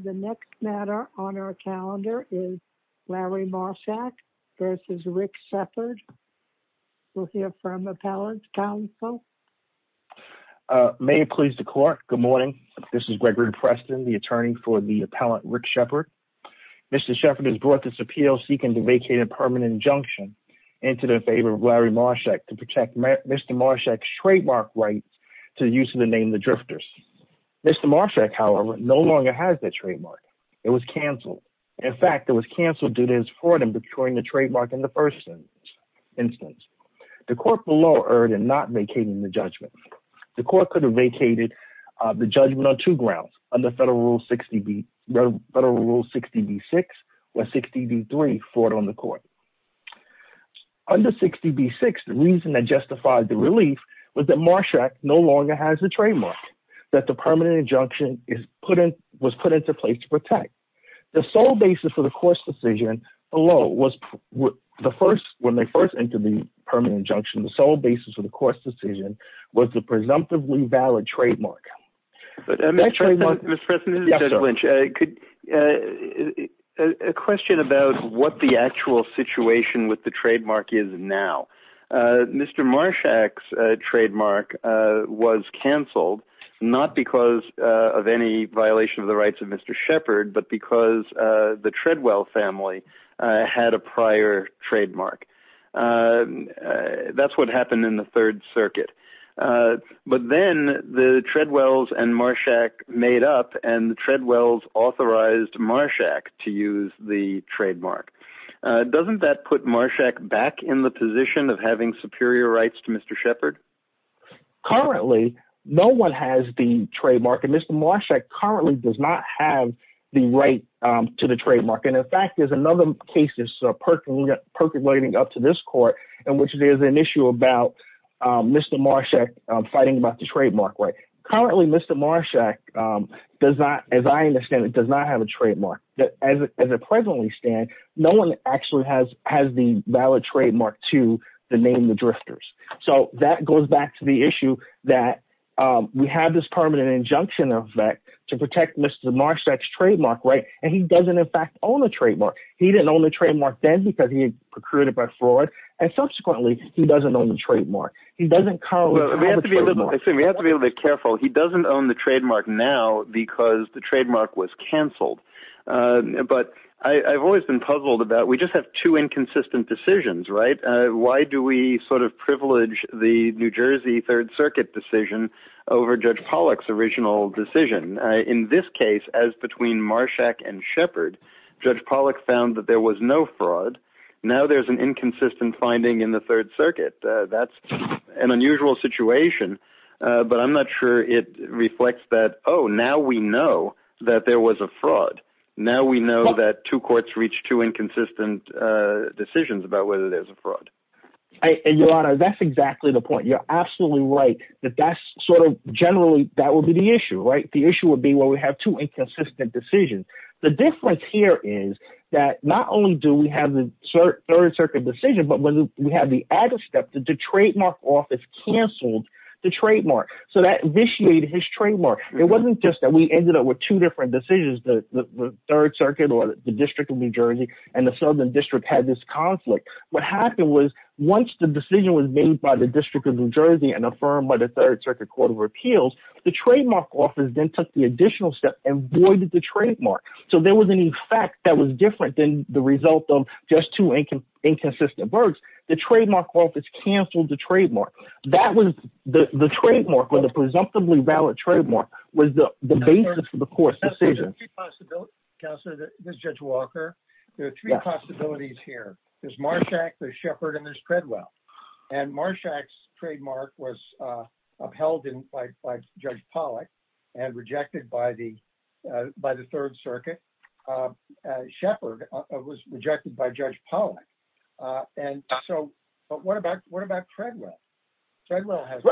The next matter on our calendar is Larry Marshak v. Rick Sheppard. We'll hear from Appellant Counsel. May it please the Court. Good morning. This is Gregory Preston, the attorney for the Appellant Rick Sheppard. Mr. Sheppard has brought this appeal seeking to vacate a permanent injunction into the favor of Larry Marshak to protect Mr. Marshak's trademark rights to the use However, no longer has that trademark. It was canceled. In fact, it was canceled due to his fraud in procuring the trademark in the first instance. The court below erred in not vacating the judgment. The court could have vacated the judgment on two grounds, under Federal Rule 60b-6, where 60b-3, fraud on the court. Under 60b-6, the reason that justified the relief was that Marshak no longer has the trademark, that the permanent injunction was put into place to protect. The sole basis for the court's decision below, when they first entered the permanent injunction, the sole basis of the court's decision was the presumptively valid trademark. Mr. Preston, this is Judge Lynch. A question about what the actual situation with the trademark is now. Mr. Marshak's trademark was canceled, not because of any violation of the rights of Mr. Sheppard, but because the Treadwell family had a prior trademark. That's what happened in the Third Circuit. But then the Treadwells and Marshak made up, and the Treadwells authorized Marshak to use the trademark. Doesn't that put Marshak back in the position of having superior rights to Mr. Sheppard? Currently, no one has the trademark, and Mr. Marshak currently does not have the right to the trademark. In fact, there's another case that's percolating up to this court, in which there's an issue about Mr. Marshak fighting about the trademark right. Currently, Mr. Marshak, as I understand it, does not have a trademark. As it presently stands, no one actually has the valid trademark to the name The Drifters. That goes back to the issue that we have this permanent injunction of that to protect Mr. Marshak's trademark, and he doesn't, in fact, own the trademark. He didn't own the trademark then because he had procured it by fraud, and subsequently, he doesn't own the trademark. He doesn't currently have a trademark. We have to be a little bit careful. He doesn't own the trademark now because the trademark was canceled, but I've always been puzzled about... We just have two inconsistent decisions, right? Why do we sort of privilege the New Jersey Third Circuit decision over Judge Pollack's original decision? In this case, as between Marshak and Sheppard, Judge Pollack found that there was no fraud. Now, there's an inconsistent finding in the Third Circuit. That's an unusual situation, but I'm not sure it reflects that, oh, now we know that there was a fraud. Now we know that two courts reached two inconsistent decisions about whether there's a fraud. Your Honor, that's exactly the point. You're absolutely right that that's sort of generally... That would be the issue, right? The issue would be where we have two inconsistent decisions. The difference here is that not only do we have the Third Circuit decision, but when we have the other step, the trademark office canceled the trademark. That vitiated his trademark. It wasn't just that we ended up with two different decisions, the Third Circuit or the District of New Jersey and the Southern District had this conflict. What happened was once the decision was made by the District of New Jersey and affirmed by the Third Circuit Court of Appeals, the trademark office then took the additional step and voided the trademark. There was an effect that was different than the result of just two inconsistent words. The trademark office canceled the trademark. The trademark or the presumptively valid trademark was the basis for the court's decision. Counselor, this is Judge Walker. There are three possibilities here. There's Marshack, there's Shepard, and there's Treadwell. Marshack's trademark was upheld by Judge Pollack and rejected by the Third Circuit. Shepard was rejected by Judge Pollack. What about Treadwell? Treadwell has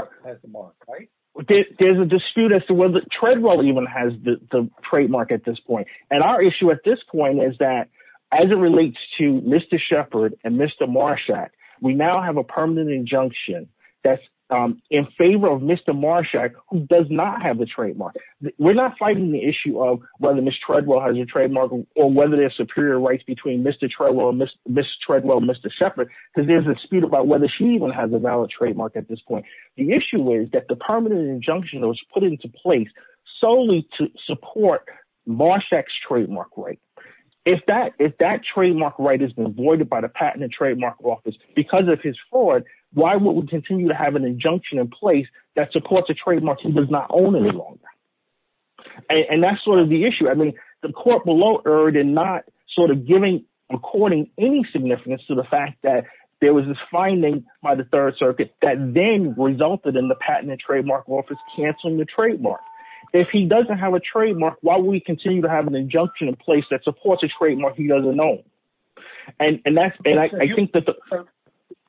the mark, right? There's a dispute as to whether Treadwell even has the trademark at this point. Our issue at this point is that as it relates to Mr. Shepard and Mr. Marshack, we now have a permanent injunction that's in favor of Mr. Marshack who does not have the trademark. We're not fighting the issue of whether Ms. Treadwell has a trademark or whether there are superior rights between Mr. Treadwell and Mr. Shepard because there's a dispute about whether she even has a valid trademark at this point. The issue is that the permanent injunction was put into place solely to support Marshack's trademark. If that trademark right has been voided by the Patent and Trademark Office because of his fraud, why would we continue to have an injunction in place that supports a trademark he does not own any longer? That's the issue. The court below erred in not giving a court any significance to the fact that there was this finding by the Third Circuit that then resulted in the Patent and Trademark Office canceling the trademark. If he doesn't have a trademark, why would we continue to have an injunction in place that supports a trademark he doesn't own?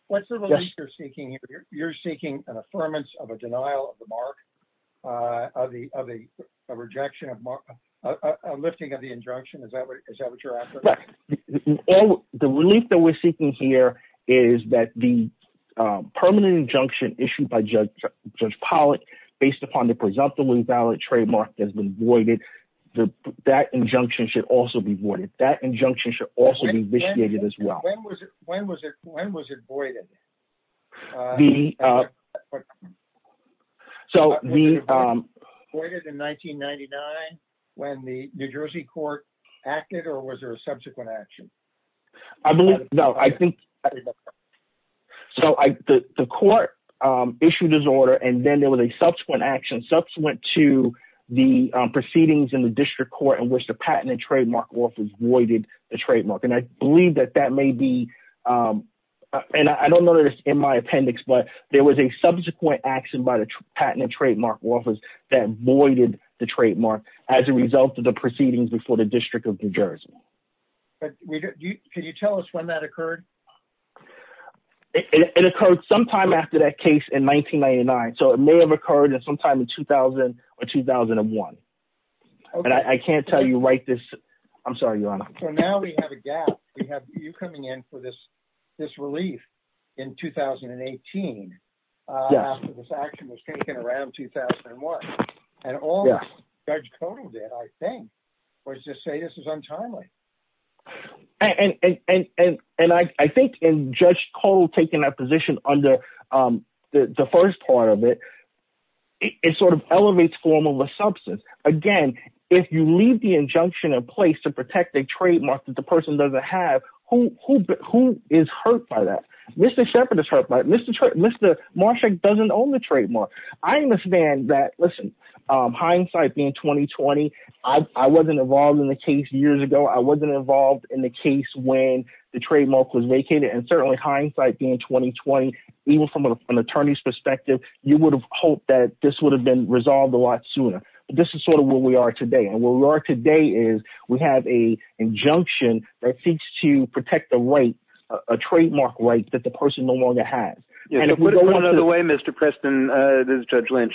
What's the relief you're seeking here? You're seeking an affirmance of a denial of the mark, a lifting of the injunction? Is that what you're after? The relief that we're seeking here is that the permanent injunction issued by Judge Pollack based upon the presumptively valid trademark that's been voided, that injunction should also be voided. That injunction should also be vitiated as well. When was it voided in 1999 when the New Jersey court acted or was there a subsequent action? The court issued his order and then there was a subsequent action to the proceedings in the district court in which the Patent and Trademark Office voided the trademark. I don't know this in my appendix, but there was a subsequent action by the Patent and Trademark Office that voided the trademark as a result of the proceedings before the District of New Jersey. Can you tell us when that occurred? It occurred sometime after that case in 1999, so it may have occurred at some time in 2000 or 2001. I can't tell you right this... I'm sorry, Your Honor. Now we have a gap. We have you coming in for this relief in 2018 after this action was taken around 2001 and all Judge Kotal did, I think, was just say this is untimely. I think in Judge Kotal taking that position under the first part of it, it sort of elevates form of a substance. Again, if you leave the injunction in place to protect a trademark that the person doesn't have, who is hurt by that? Mr. Sheppard is hurt by it. Mr. Marshak doesn't own the trademark. I understand that. Listen, hindsight being 2020, I wasn't involved in the case years ago. Certainly hindsight being 2020, even from an attorney's perspective, you would have hoped that this would have been resolved a lot sooner. This is sort of where we are today. Where we are today is we have an injunction that seeks to protect a right, a trademark right, that the person no longer has. Put it another way, Mr. Preston, this is Judge Lynch.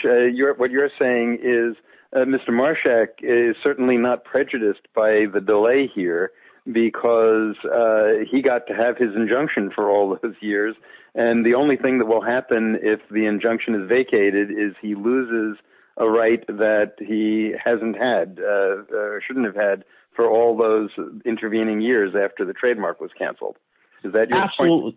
What you're saying is Mr. Marshak is certainly not prejudiced by the delay here because he got to have his injunction for all those years. The only thing that will happen if the injunction is vacated is he loses a right that he hasn't had or shouldn't have had for all those intervening years after the trademark was canceled. Is that your point?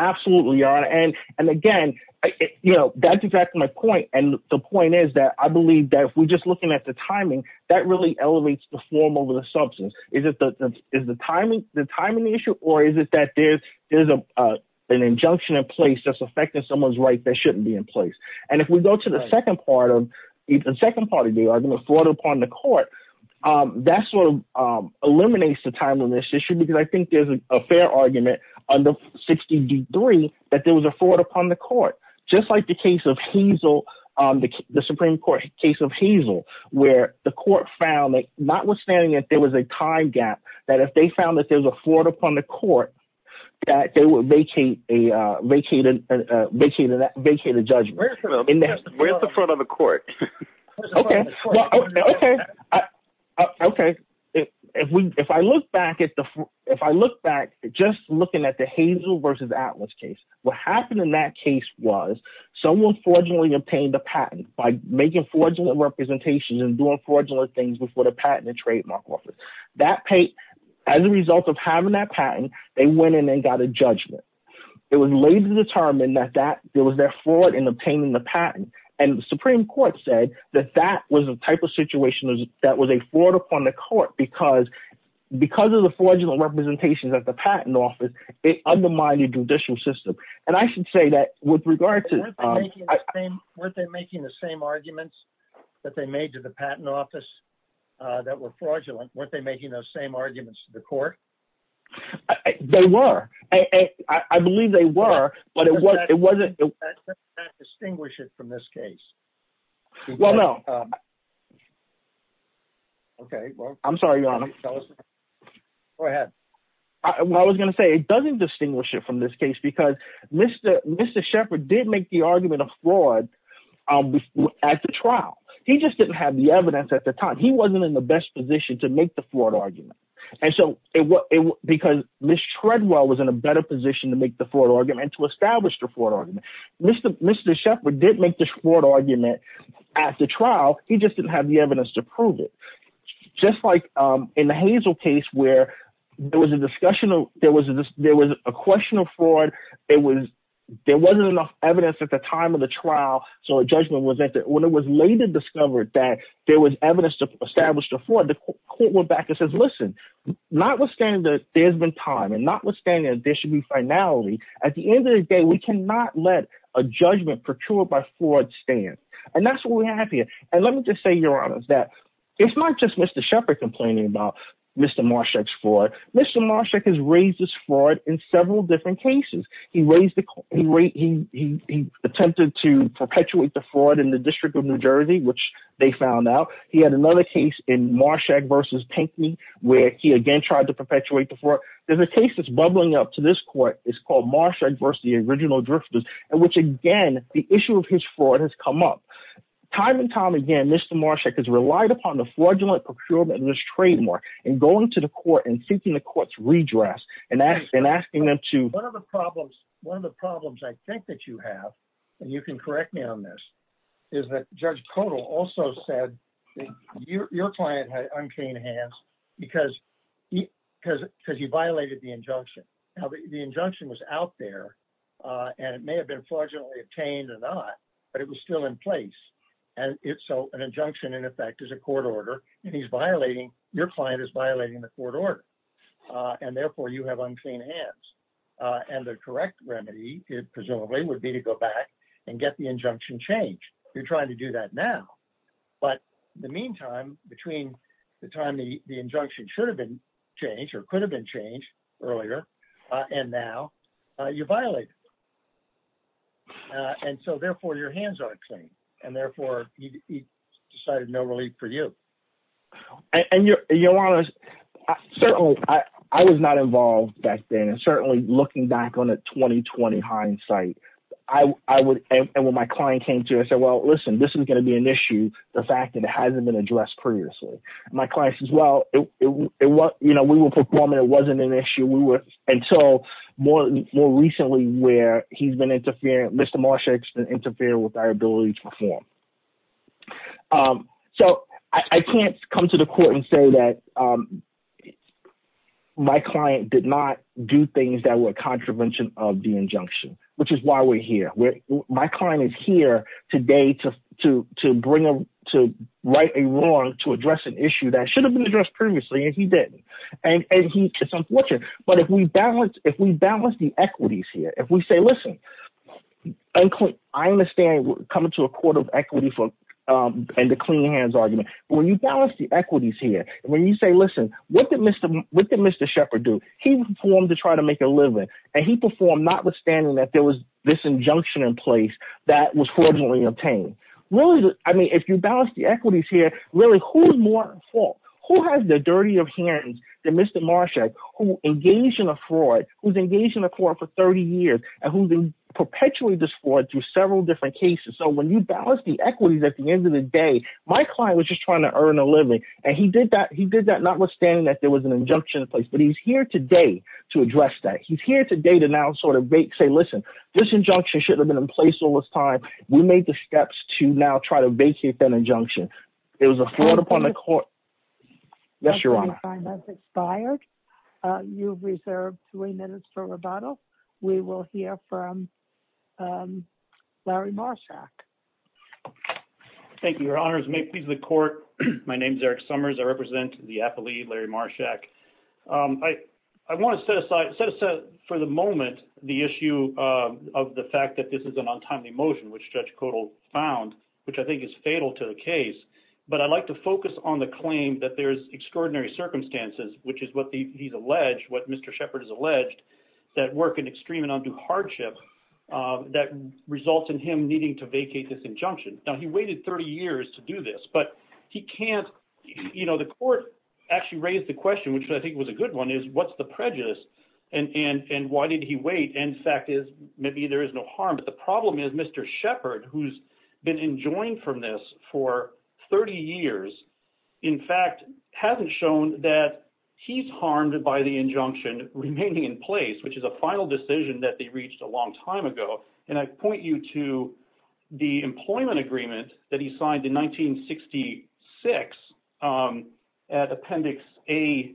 Absolutely. Again, that's exactly my point. The point is that I believe that if we're just looking at the timing, that really elevates the form over the substance. Is the timing the issue or is it that there's an injunction in place that's affecting someone's right that shouldn't be in place? If we go to the second part of the argument, fraud upon the court, that eliminates the time on this issue because I think there's a fair argument under 16d3 that there was a fraud upon the court, just like the Supreme Court case of Hazel, where the court found that notwithstanding that there was a time gap, that if they found that there was a fraud upon the court, that they would vacate the judgment. Where's the fraud on the versus Atlas case? What happened in that case was someone fraudulently obtained a patent by making fraudulent representations and doing fraudulent things before the patent and trademark office. As a result of having that patent, they went in and got a judgment. It was later determined that there was their fraud in obtaining the patent. The Supreme Court said that that was the type of situation that was a fraud upon the court because of the fraudulent representations at the patent office, it undermined the judicial system. I should say that with regard to... Weren't they making the same arguments that they made to the patent office that were fraudulent? Weren't they making those same arguments to the court? They were. I believe they were, but it wasn't... Does that distinguish it from this case? Well, no. Okay. Well, I'm sorry, Your Honor. Go ahead. I was going to say it doesn't distinguish it from this case because Mr. Shepherd did make the argument of fraud at the trial. He just didn't have the evidence at the time. He wasn't in the best position to make the fraud argument. Because Ms. Treadwell was in a better position to make the fraud argument and to establish the fraud argument. Mr. Shepherd did make the fraud argument at the trial. He just didn't have the evidence to prove it. Just like in the Hazel case where there was a discussion of... There was a question of fraud. There wasn't enough evidence at the time of the trial. So a judgment wasn't... When it was later discovered that there was evidence to establish the fraud, the court went back and says, listen, notwithstanding that there's been time and notwithstanding there should be finality, at the end of the day, we cannot let a judgment procured by fraud stand. And that's what we have here. And let me just say, Your Honor, that it's not just Mr. Shepherd complaining about Mr. Marshak's fraud. Mr. Marshak has raised this fraud in several different cases. He raised the... He attempted to perpetuate the fraud in the District of New Jersey, which they found out. He had another case in Marshak versus Pinkney where he again tried to perpetuate the fraud. There's a case that's bubbling up to this court. It's called Marshak versus the original Drifters, in which again, the issue of his fraud has come up. Time and time again, Mr. Marshak has relied upon the fraudulent procurement of this trademark and going to the court and seeking the court's redress and asking them to... One of the problems I think that you have, and you can correct me on this, is that Judge Kotal also said that your client had he violated the injunction. The injunction was out there and it may have been fraudulently obtained or not, but it was still in place. And so an injunction in effect is a court order, and he's violating... Your client is violating the court order. And therefore, you have unclean hands. And the correct remedy, presumably, would be to go back and get the injunction changed. You're trying to do that now. But in the meantime, between the time the injunction should have been changed or could have been changed earlier and now, you violated it. And so therefore, your hands are clean. And therefore, he decided no relief for you. And your Honor, certainly, I was not involved back then. And certainly, looking back on a 2020 hindsight, I would... And when my client came to, I said, well, listen, this is going to be an issue, the fact that it hasn't been addressed previously. My client says, well, we were performing. It wasn't an issue. We were... Until more recently, where he's been interfering... Mr. Marsha has been interfering with our ability to perform. So I can't come to the court and say that my client did not do things that were a contravention of the injunction, which is why we're here. My client is here today to write a wrong to address an issue that should have been addressed previously, and he didn't. And it's unfortunate. But if we balance the equities here, if we say, listen, I understand coming to a court of equity and the clean hands argument. But when you balance the equities here, when you say, listen, what did Mr. Shepherd do? He performed to try to make a living, and he performed notwithstanding that there was this injunction in place that was fraudulently obtained. Really, I mean, if you balance the equities here, really, who's more at fault? Who has the dirtier hands than Mr. Marsha who engaged in a fraud, who's engaged in a court for 30 years, and who's been perpetually disfraud through several different cases? So when you balance the equities at the end of the day, my client was just trying to earn a living, and he did that notwithstanding that there was an injunction in to address that. He's here today to now sort of say, listen, this injunction should have been in place all this time. We made the steps to now try to vacate that injunction. It was a fraud upon the court. Yes, Your Honor. That's expired. You've reserved three minutes for rebuttal. We will hear from Larry Marshak. Thank you, Your Honors. May it please the court. My name is Eric Summers. I want to set aside for the moment the issue of the fact that this is an untimely motion which Judge Kodal found, which I think is fatal to the case, but I'd like to focus on the claim that there's extraordinary circumstances, which is what he's alleged, what Mr. Shepard has alleged, that work in extreme and undue hardship that results in him needing to vacate this injunction. Now, he waited 30 years to do this, but he can't, you know, the court actually raised the question, which I think was a good one, is what's the prejudice? And why did he wait? And the fact is, maybe there is no harm. But the problem is Mr. Shepard, who's been enjoined from this for 30 years, in fact, hasn't shown that he's harmed by the injunction remaining in place, which is a final decision that they reached a long time ago. And I point you to the employment agreement that he signed in 1966, at Appendix A,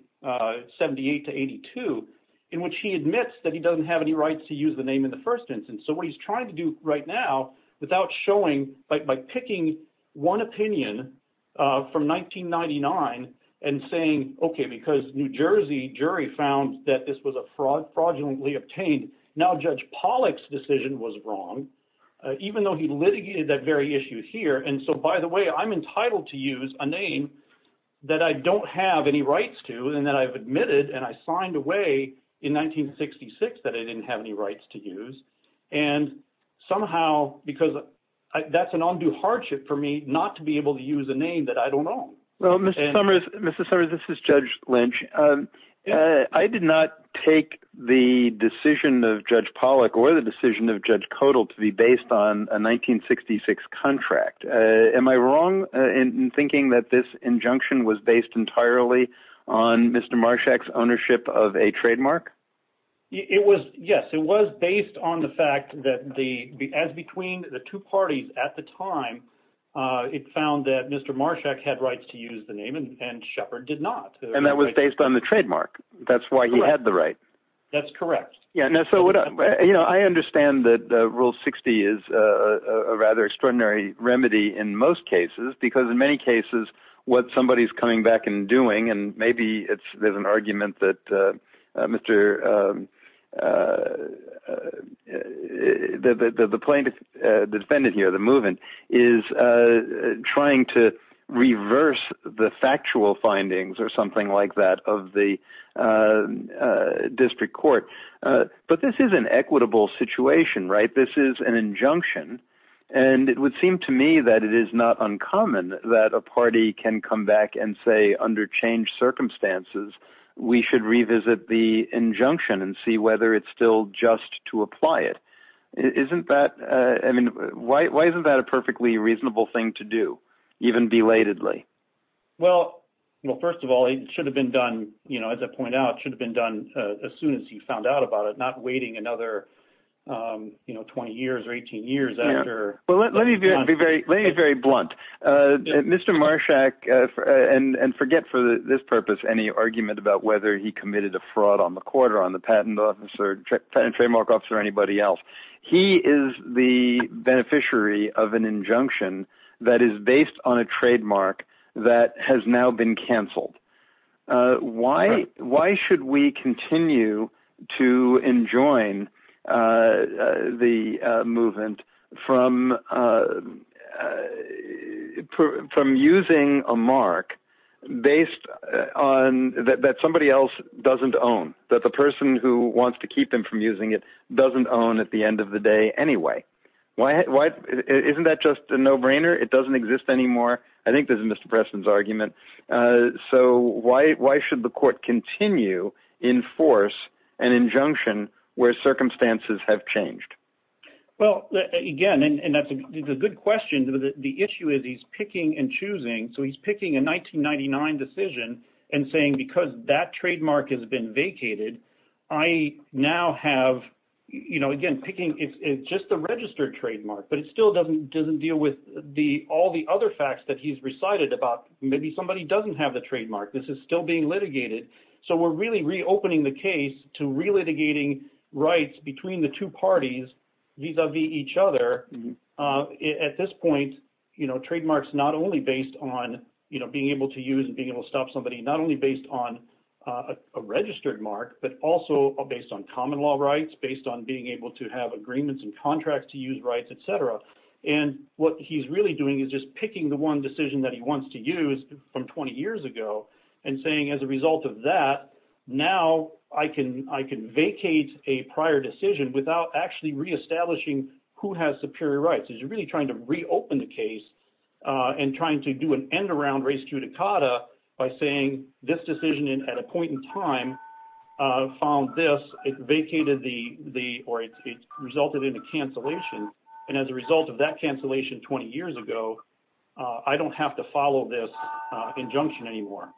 78 to 82, in which he admits that he doesn't have any rights to use the name in the first instance. So what he's trying to do right now, without showing, but by picking one opinion from 1999, and saying, okay, because New Jersey jury found that this was a fraud fraudulently obtained, now Judge Pollack's decision was wrong, even though he litigated that issue here. And so by the way, I'm entitled to use a name that I don't have any rights to, and that I've admitted, and I signed away in 1966, that I didn't have any rights to use. And somehow, because that's an undue hardship for me not to be able to use a name that I don't own. Well, Mr. Summers, Mr. Summers, this is Judge Lynch. I did not take the decision of Judge Kodal to be based on a 1966 contract. Am I wrong in thinking that this injunction was based entirely on Mr. Marshak's ownership of a trademark? Yes, it was based on the fact that as between the two parties at the time, it found that Mr. Marshak had rights to use the name and Shepard did not. And that was based on the trademark. That's why he had the right. That's correct. Yeah. I understand that Rule 60 is a rather extraordinary remedy in most cases, because in many cases, what somebody is coming back and doing, and maybe there's an argument that the defendant here, the move-in, is trying to reverse the factual findings or something like that of the district court. But this is an equitable situation, right? This is an injunction. And it would seem to me that it is not uncommon that a party can come back and say, under changed circumstances, we should revisit the injunction and see whether it's still just to apply it. Why isn't that a perfectly reasonable thing to do, even belatedly? Well, first of all, it should have been done, as I pointed out, it should have been done as soon as he found out about it, not waiting another 20 years or 18 years after. Well, let me be very blunt. Mr. Marshak, and forget for this purpose, any argument about whether he committed a fraud on the court or on the patent trademark officer or anybody else, he is the beneficiary of an injunction that is based on a trademark that has now been canceled. Why should we continue to enjoin the movement from using a mark that somebody else doesn't own, that the person who wants to keep them from using it doesn't own at the end of the day anyway? Isn't that just a no-brainer? It doesn't exist anymore. I think this is Mr. Preston's argument. So why should the court continue to enforce an injunction where circumstances have changed? Well, again, and that's a good question. The issue is he's picking and choosing. So he's been vacated. It's just a registered trademark, but it still doesn't deal with all the other facts that he's recited about maybe somebody doesn't have the trademark. This is still being litigated. So we're really reopening the case to relitigating rights between the two parties vis-a-vis each other. At this point, trademarks not only based on being able to use and being on a registered mark, but also based on common law rights, based on being able to have agreements and contracts to use rights, et cetera. And what he's really doing is just picking the one decision that he wants to use from 20 years ago and saying, as a result of that, now I can vacate a prior decision without actually reestablishing who has superior rights. He's really trying to reopen the by saying this decision at a point in time found this, it vacated the, or it resulted in a cancellation. And as a result of that cancellation 20 years ago, I don't have to follow this injunction anymore.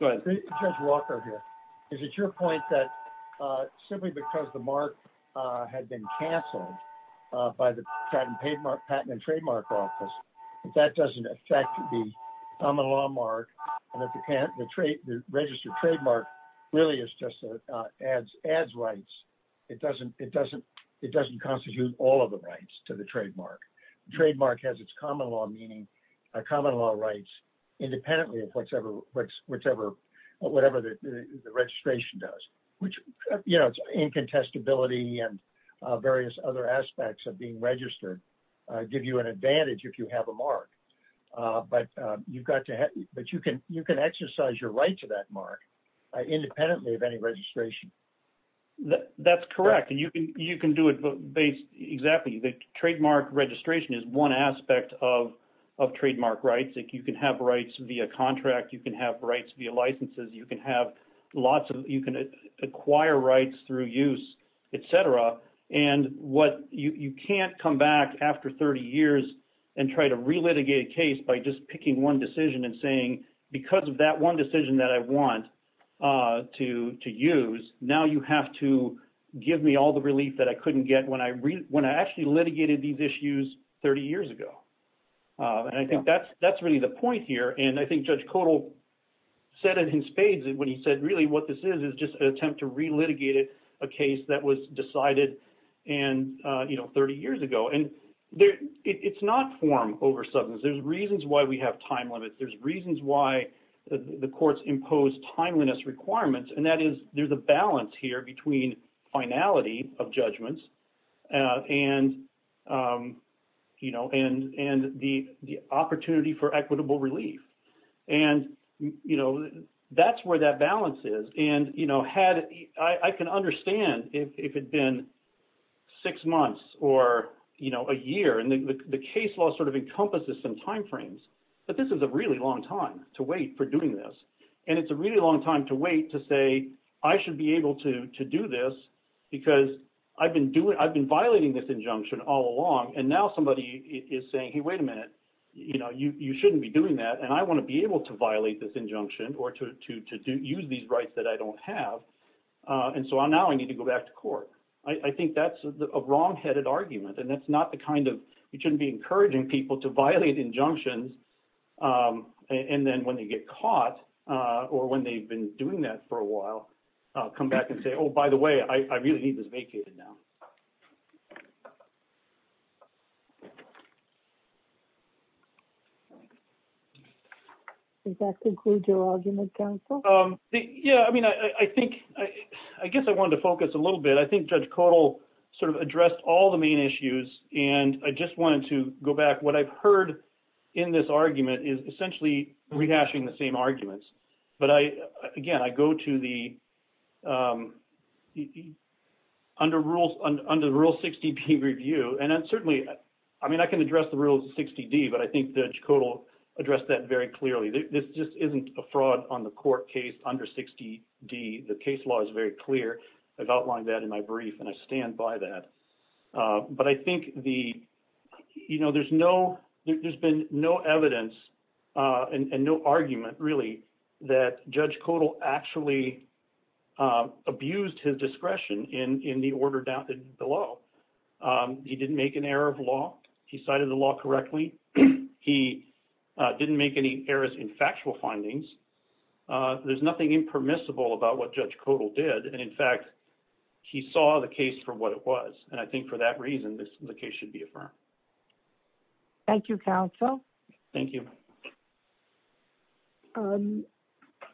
Judge Walker here. Is it your point that simply because the mark had been canceled by the Patent and Trademark Office, that doesn't affect the common law mark and the registered trademark really is just adds rights. It doesn't constitute all of the rights to the trademark. Trademark has its common law rights independently of whatever the registration does, which, you know, it's incontestability and various other aspects of being registered, give you an advantage if you have a mark, but you've got to, but you can, you can exercise your right to that mark independently of any registration. That's correct. And you can, you can do it based exactly. The trademark registration is one aspect of, of trademark rights. If you can have rights via contract, you can have rights via licenses. You can have lots of, you can acquire rights through use, et cetera. And what you can't come back after 30 years and try to relitigate a case by just picking one decision and saying, because of that one decision that I want to use, now you have to give me all the relief that I couldn't get when I, when I actually litigated these issues 30 years ago. And I think that's, that's really the point here. And I think Judge Kotal said it in spades when he said, really, what this is, is just an attempt to relitigate it, a case that was decided and, you know, 30 years ago. And there, it's not form over substance. There's reasons why we have time limits. There's reasons why the courts impose timeliness requirements. And that is, there's a balance here between finality of judgments and, you know, and the opportunity for equitable relief. And, you know, that's where that balance is. And, you know, had, I can understand if it had been six months or, you know, a year, and the case law sort of encompasses some timeframes, but this is a really long time to wait for doing this. And it's a really long time to wait to say, I should be able to do this because I've been doing, I've been violating this injunction all along. And now somebody is saying, hey, wait a minute, you know, you shouldn't be doing that. And I want to be able to violate this injunction or to use these rights that I don't have. And so now I need to go back to court. I think that's a wrong headed argument. And that's not the kind of, you shouldn't be encouraging people to violate injunctions. And then when they get caught or when they've been doing that for a while, I'll come back and say, oh, by the way, I really need this vacated now. Does that conclude your argument counsel? Yeah. I mean, I think, I guess I wanted to focus a little bit. I think Judge Codall sort of addressed all the main issues and I just wanted to go back. What I've heard in this argument is essentially rehashing the same arguments. But I, again, I go to the, under rules, under the Rule 60B review, and certainly, I mean, I can address the Rule 60D, but I think Judge Codall addressed that very clearly. This just isn't a fraud on the court case under 60D. The case law is very clear. I've outlined that in my brief and I stand by that. But I think the, you know, there's no, there's been no evidence and no argument, really, that Judge Codall actually abused his discretion in the order down below. He didn't make an error of law. He cited the law correctly. He didn't make any errors in factual findings. There's nothing impermissible about what Judge Codall did. And in fact, he saw the case for what it was. And I think for that reason, the case should be affirmed. Thank you, counsel. Thank you.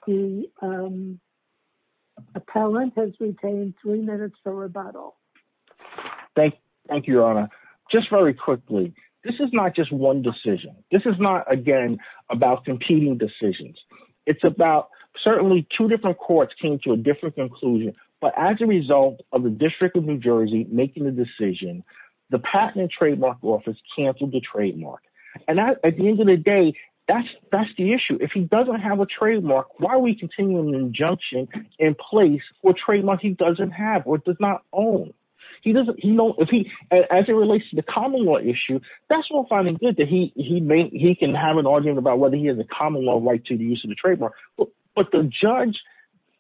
The appellant has retained three minutes for rebuttal. Thank you, Your Honor. Just very quickly, this is not just one decision. This is not, again, about competing decisions. It's about, certainly, two different courts came to a different conclusion. But as a result of the decision, the Patent and Trademark Office canceled the trademark. And at the end of the day, that's the issue. If he doesn't have a trademark, why are we continuing the injunction in place for a trademark he doesn't have or does not own? As it relates to the common law issue, that's all fine and good that he can have an argument about whether he has a common law right to the use of the trademark. But Judge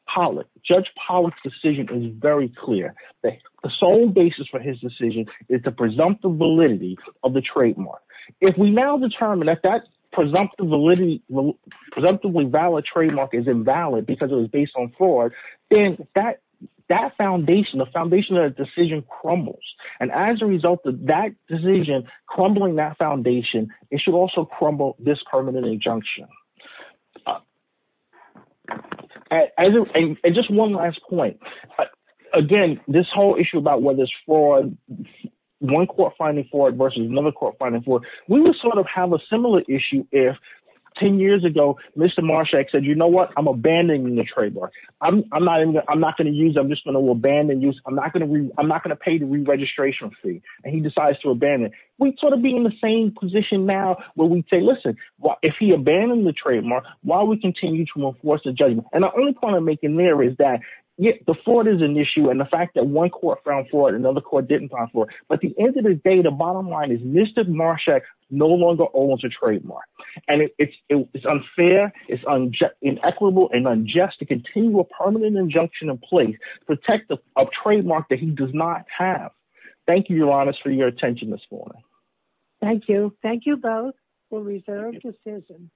Pollack's decision is very clear. The sole basis for his decision is the presumptive validity of the trademark. If we now determine that that presumptively valid trademark is invalid because it was based on fraud, then that foundation, the foundation of the decision, crumbles. And as a result of that decision crumbling that foundation, it should also crumble this permanent injunction. And just one last point. Again, this whole issue about whether it's fraud, one court finding fraud versus another court finding fraud, we would have a similar issue if 10 years ago, Mr. Marshak said, you know what? I'm abandoning the trademark. I'm not going to use it. I'm just going to abandon use. I'm not going to pay the re-registration fee. And he decides to abandon it. We'd be in the same position now where we'd say, listen, if he abandoned the trademark, why don't we continue to enforce the judgment? And the only point I'm making there is that the fraud is an issue and the fact that one court found fraud and another court didn't find fraud. But at the end of the day, the bottom line is Mr. Marshak no longer owns a trademark. And it's unfair, it's inequitable, and unjust to continue a permanent injunction in place to protect a trademark that he does not have. Thank you, Your Honors, for your attention this morning. Thank you. Thank you both for reserved decisions.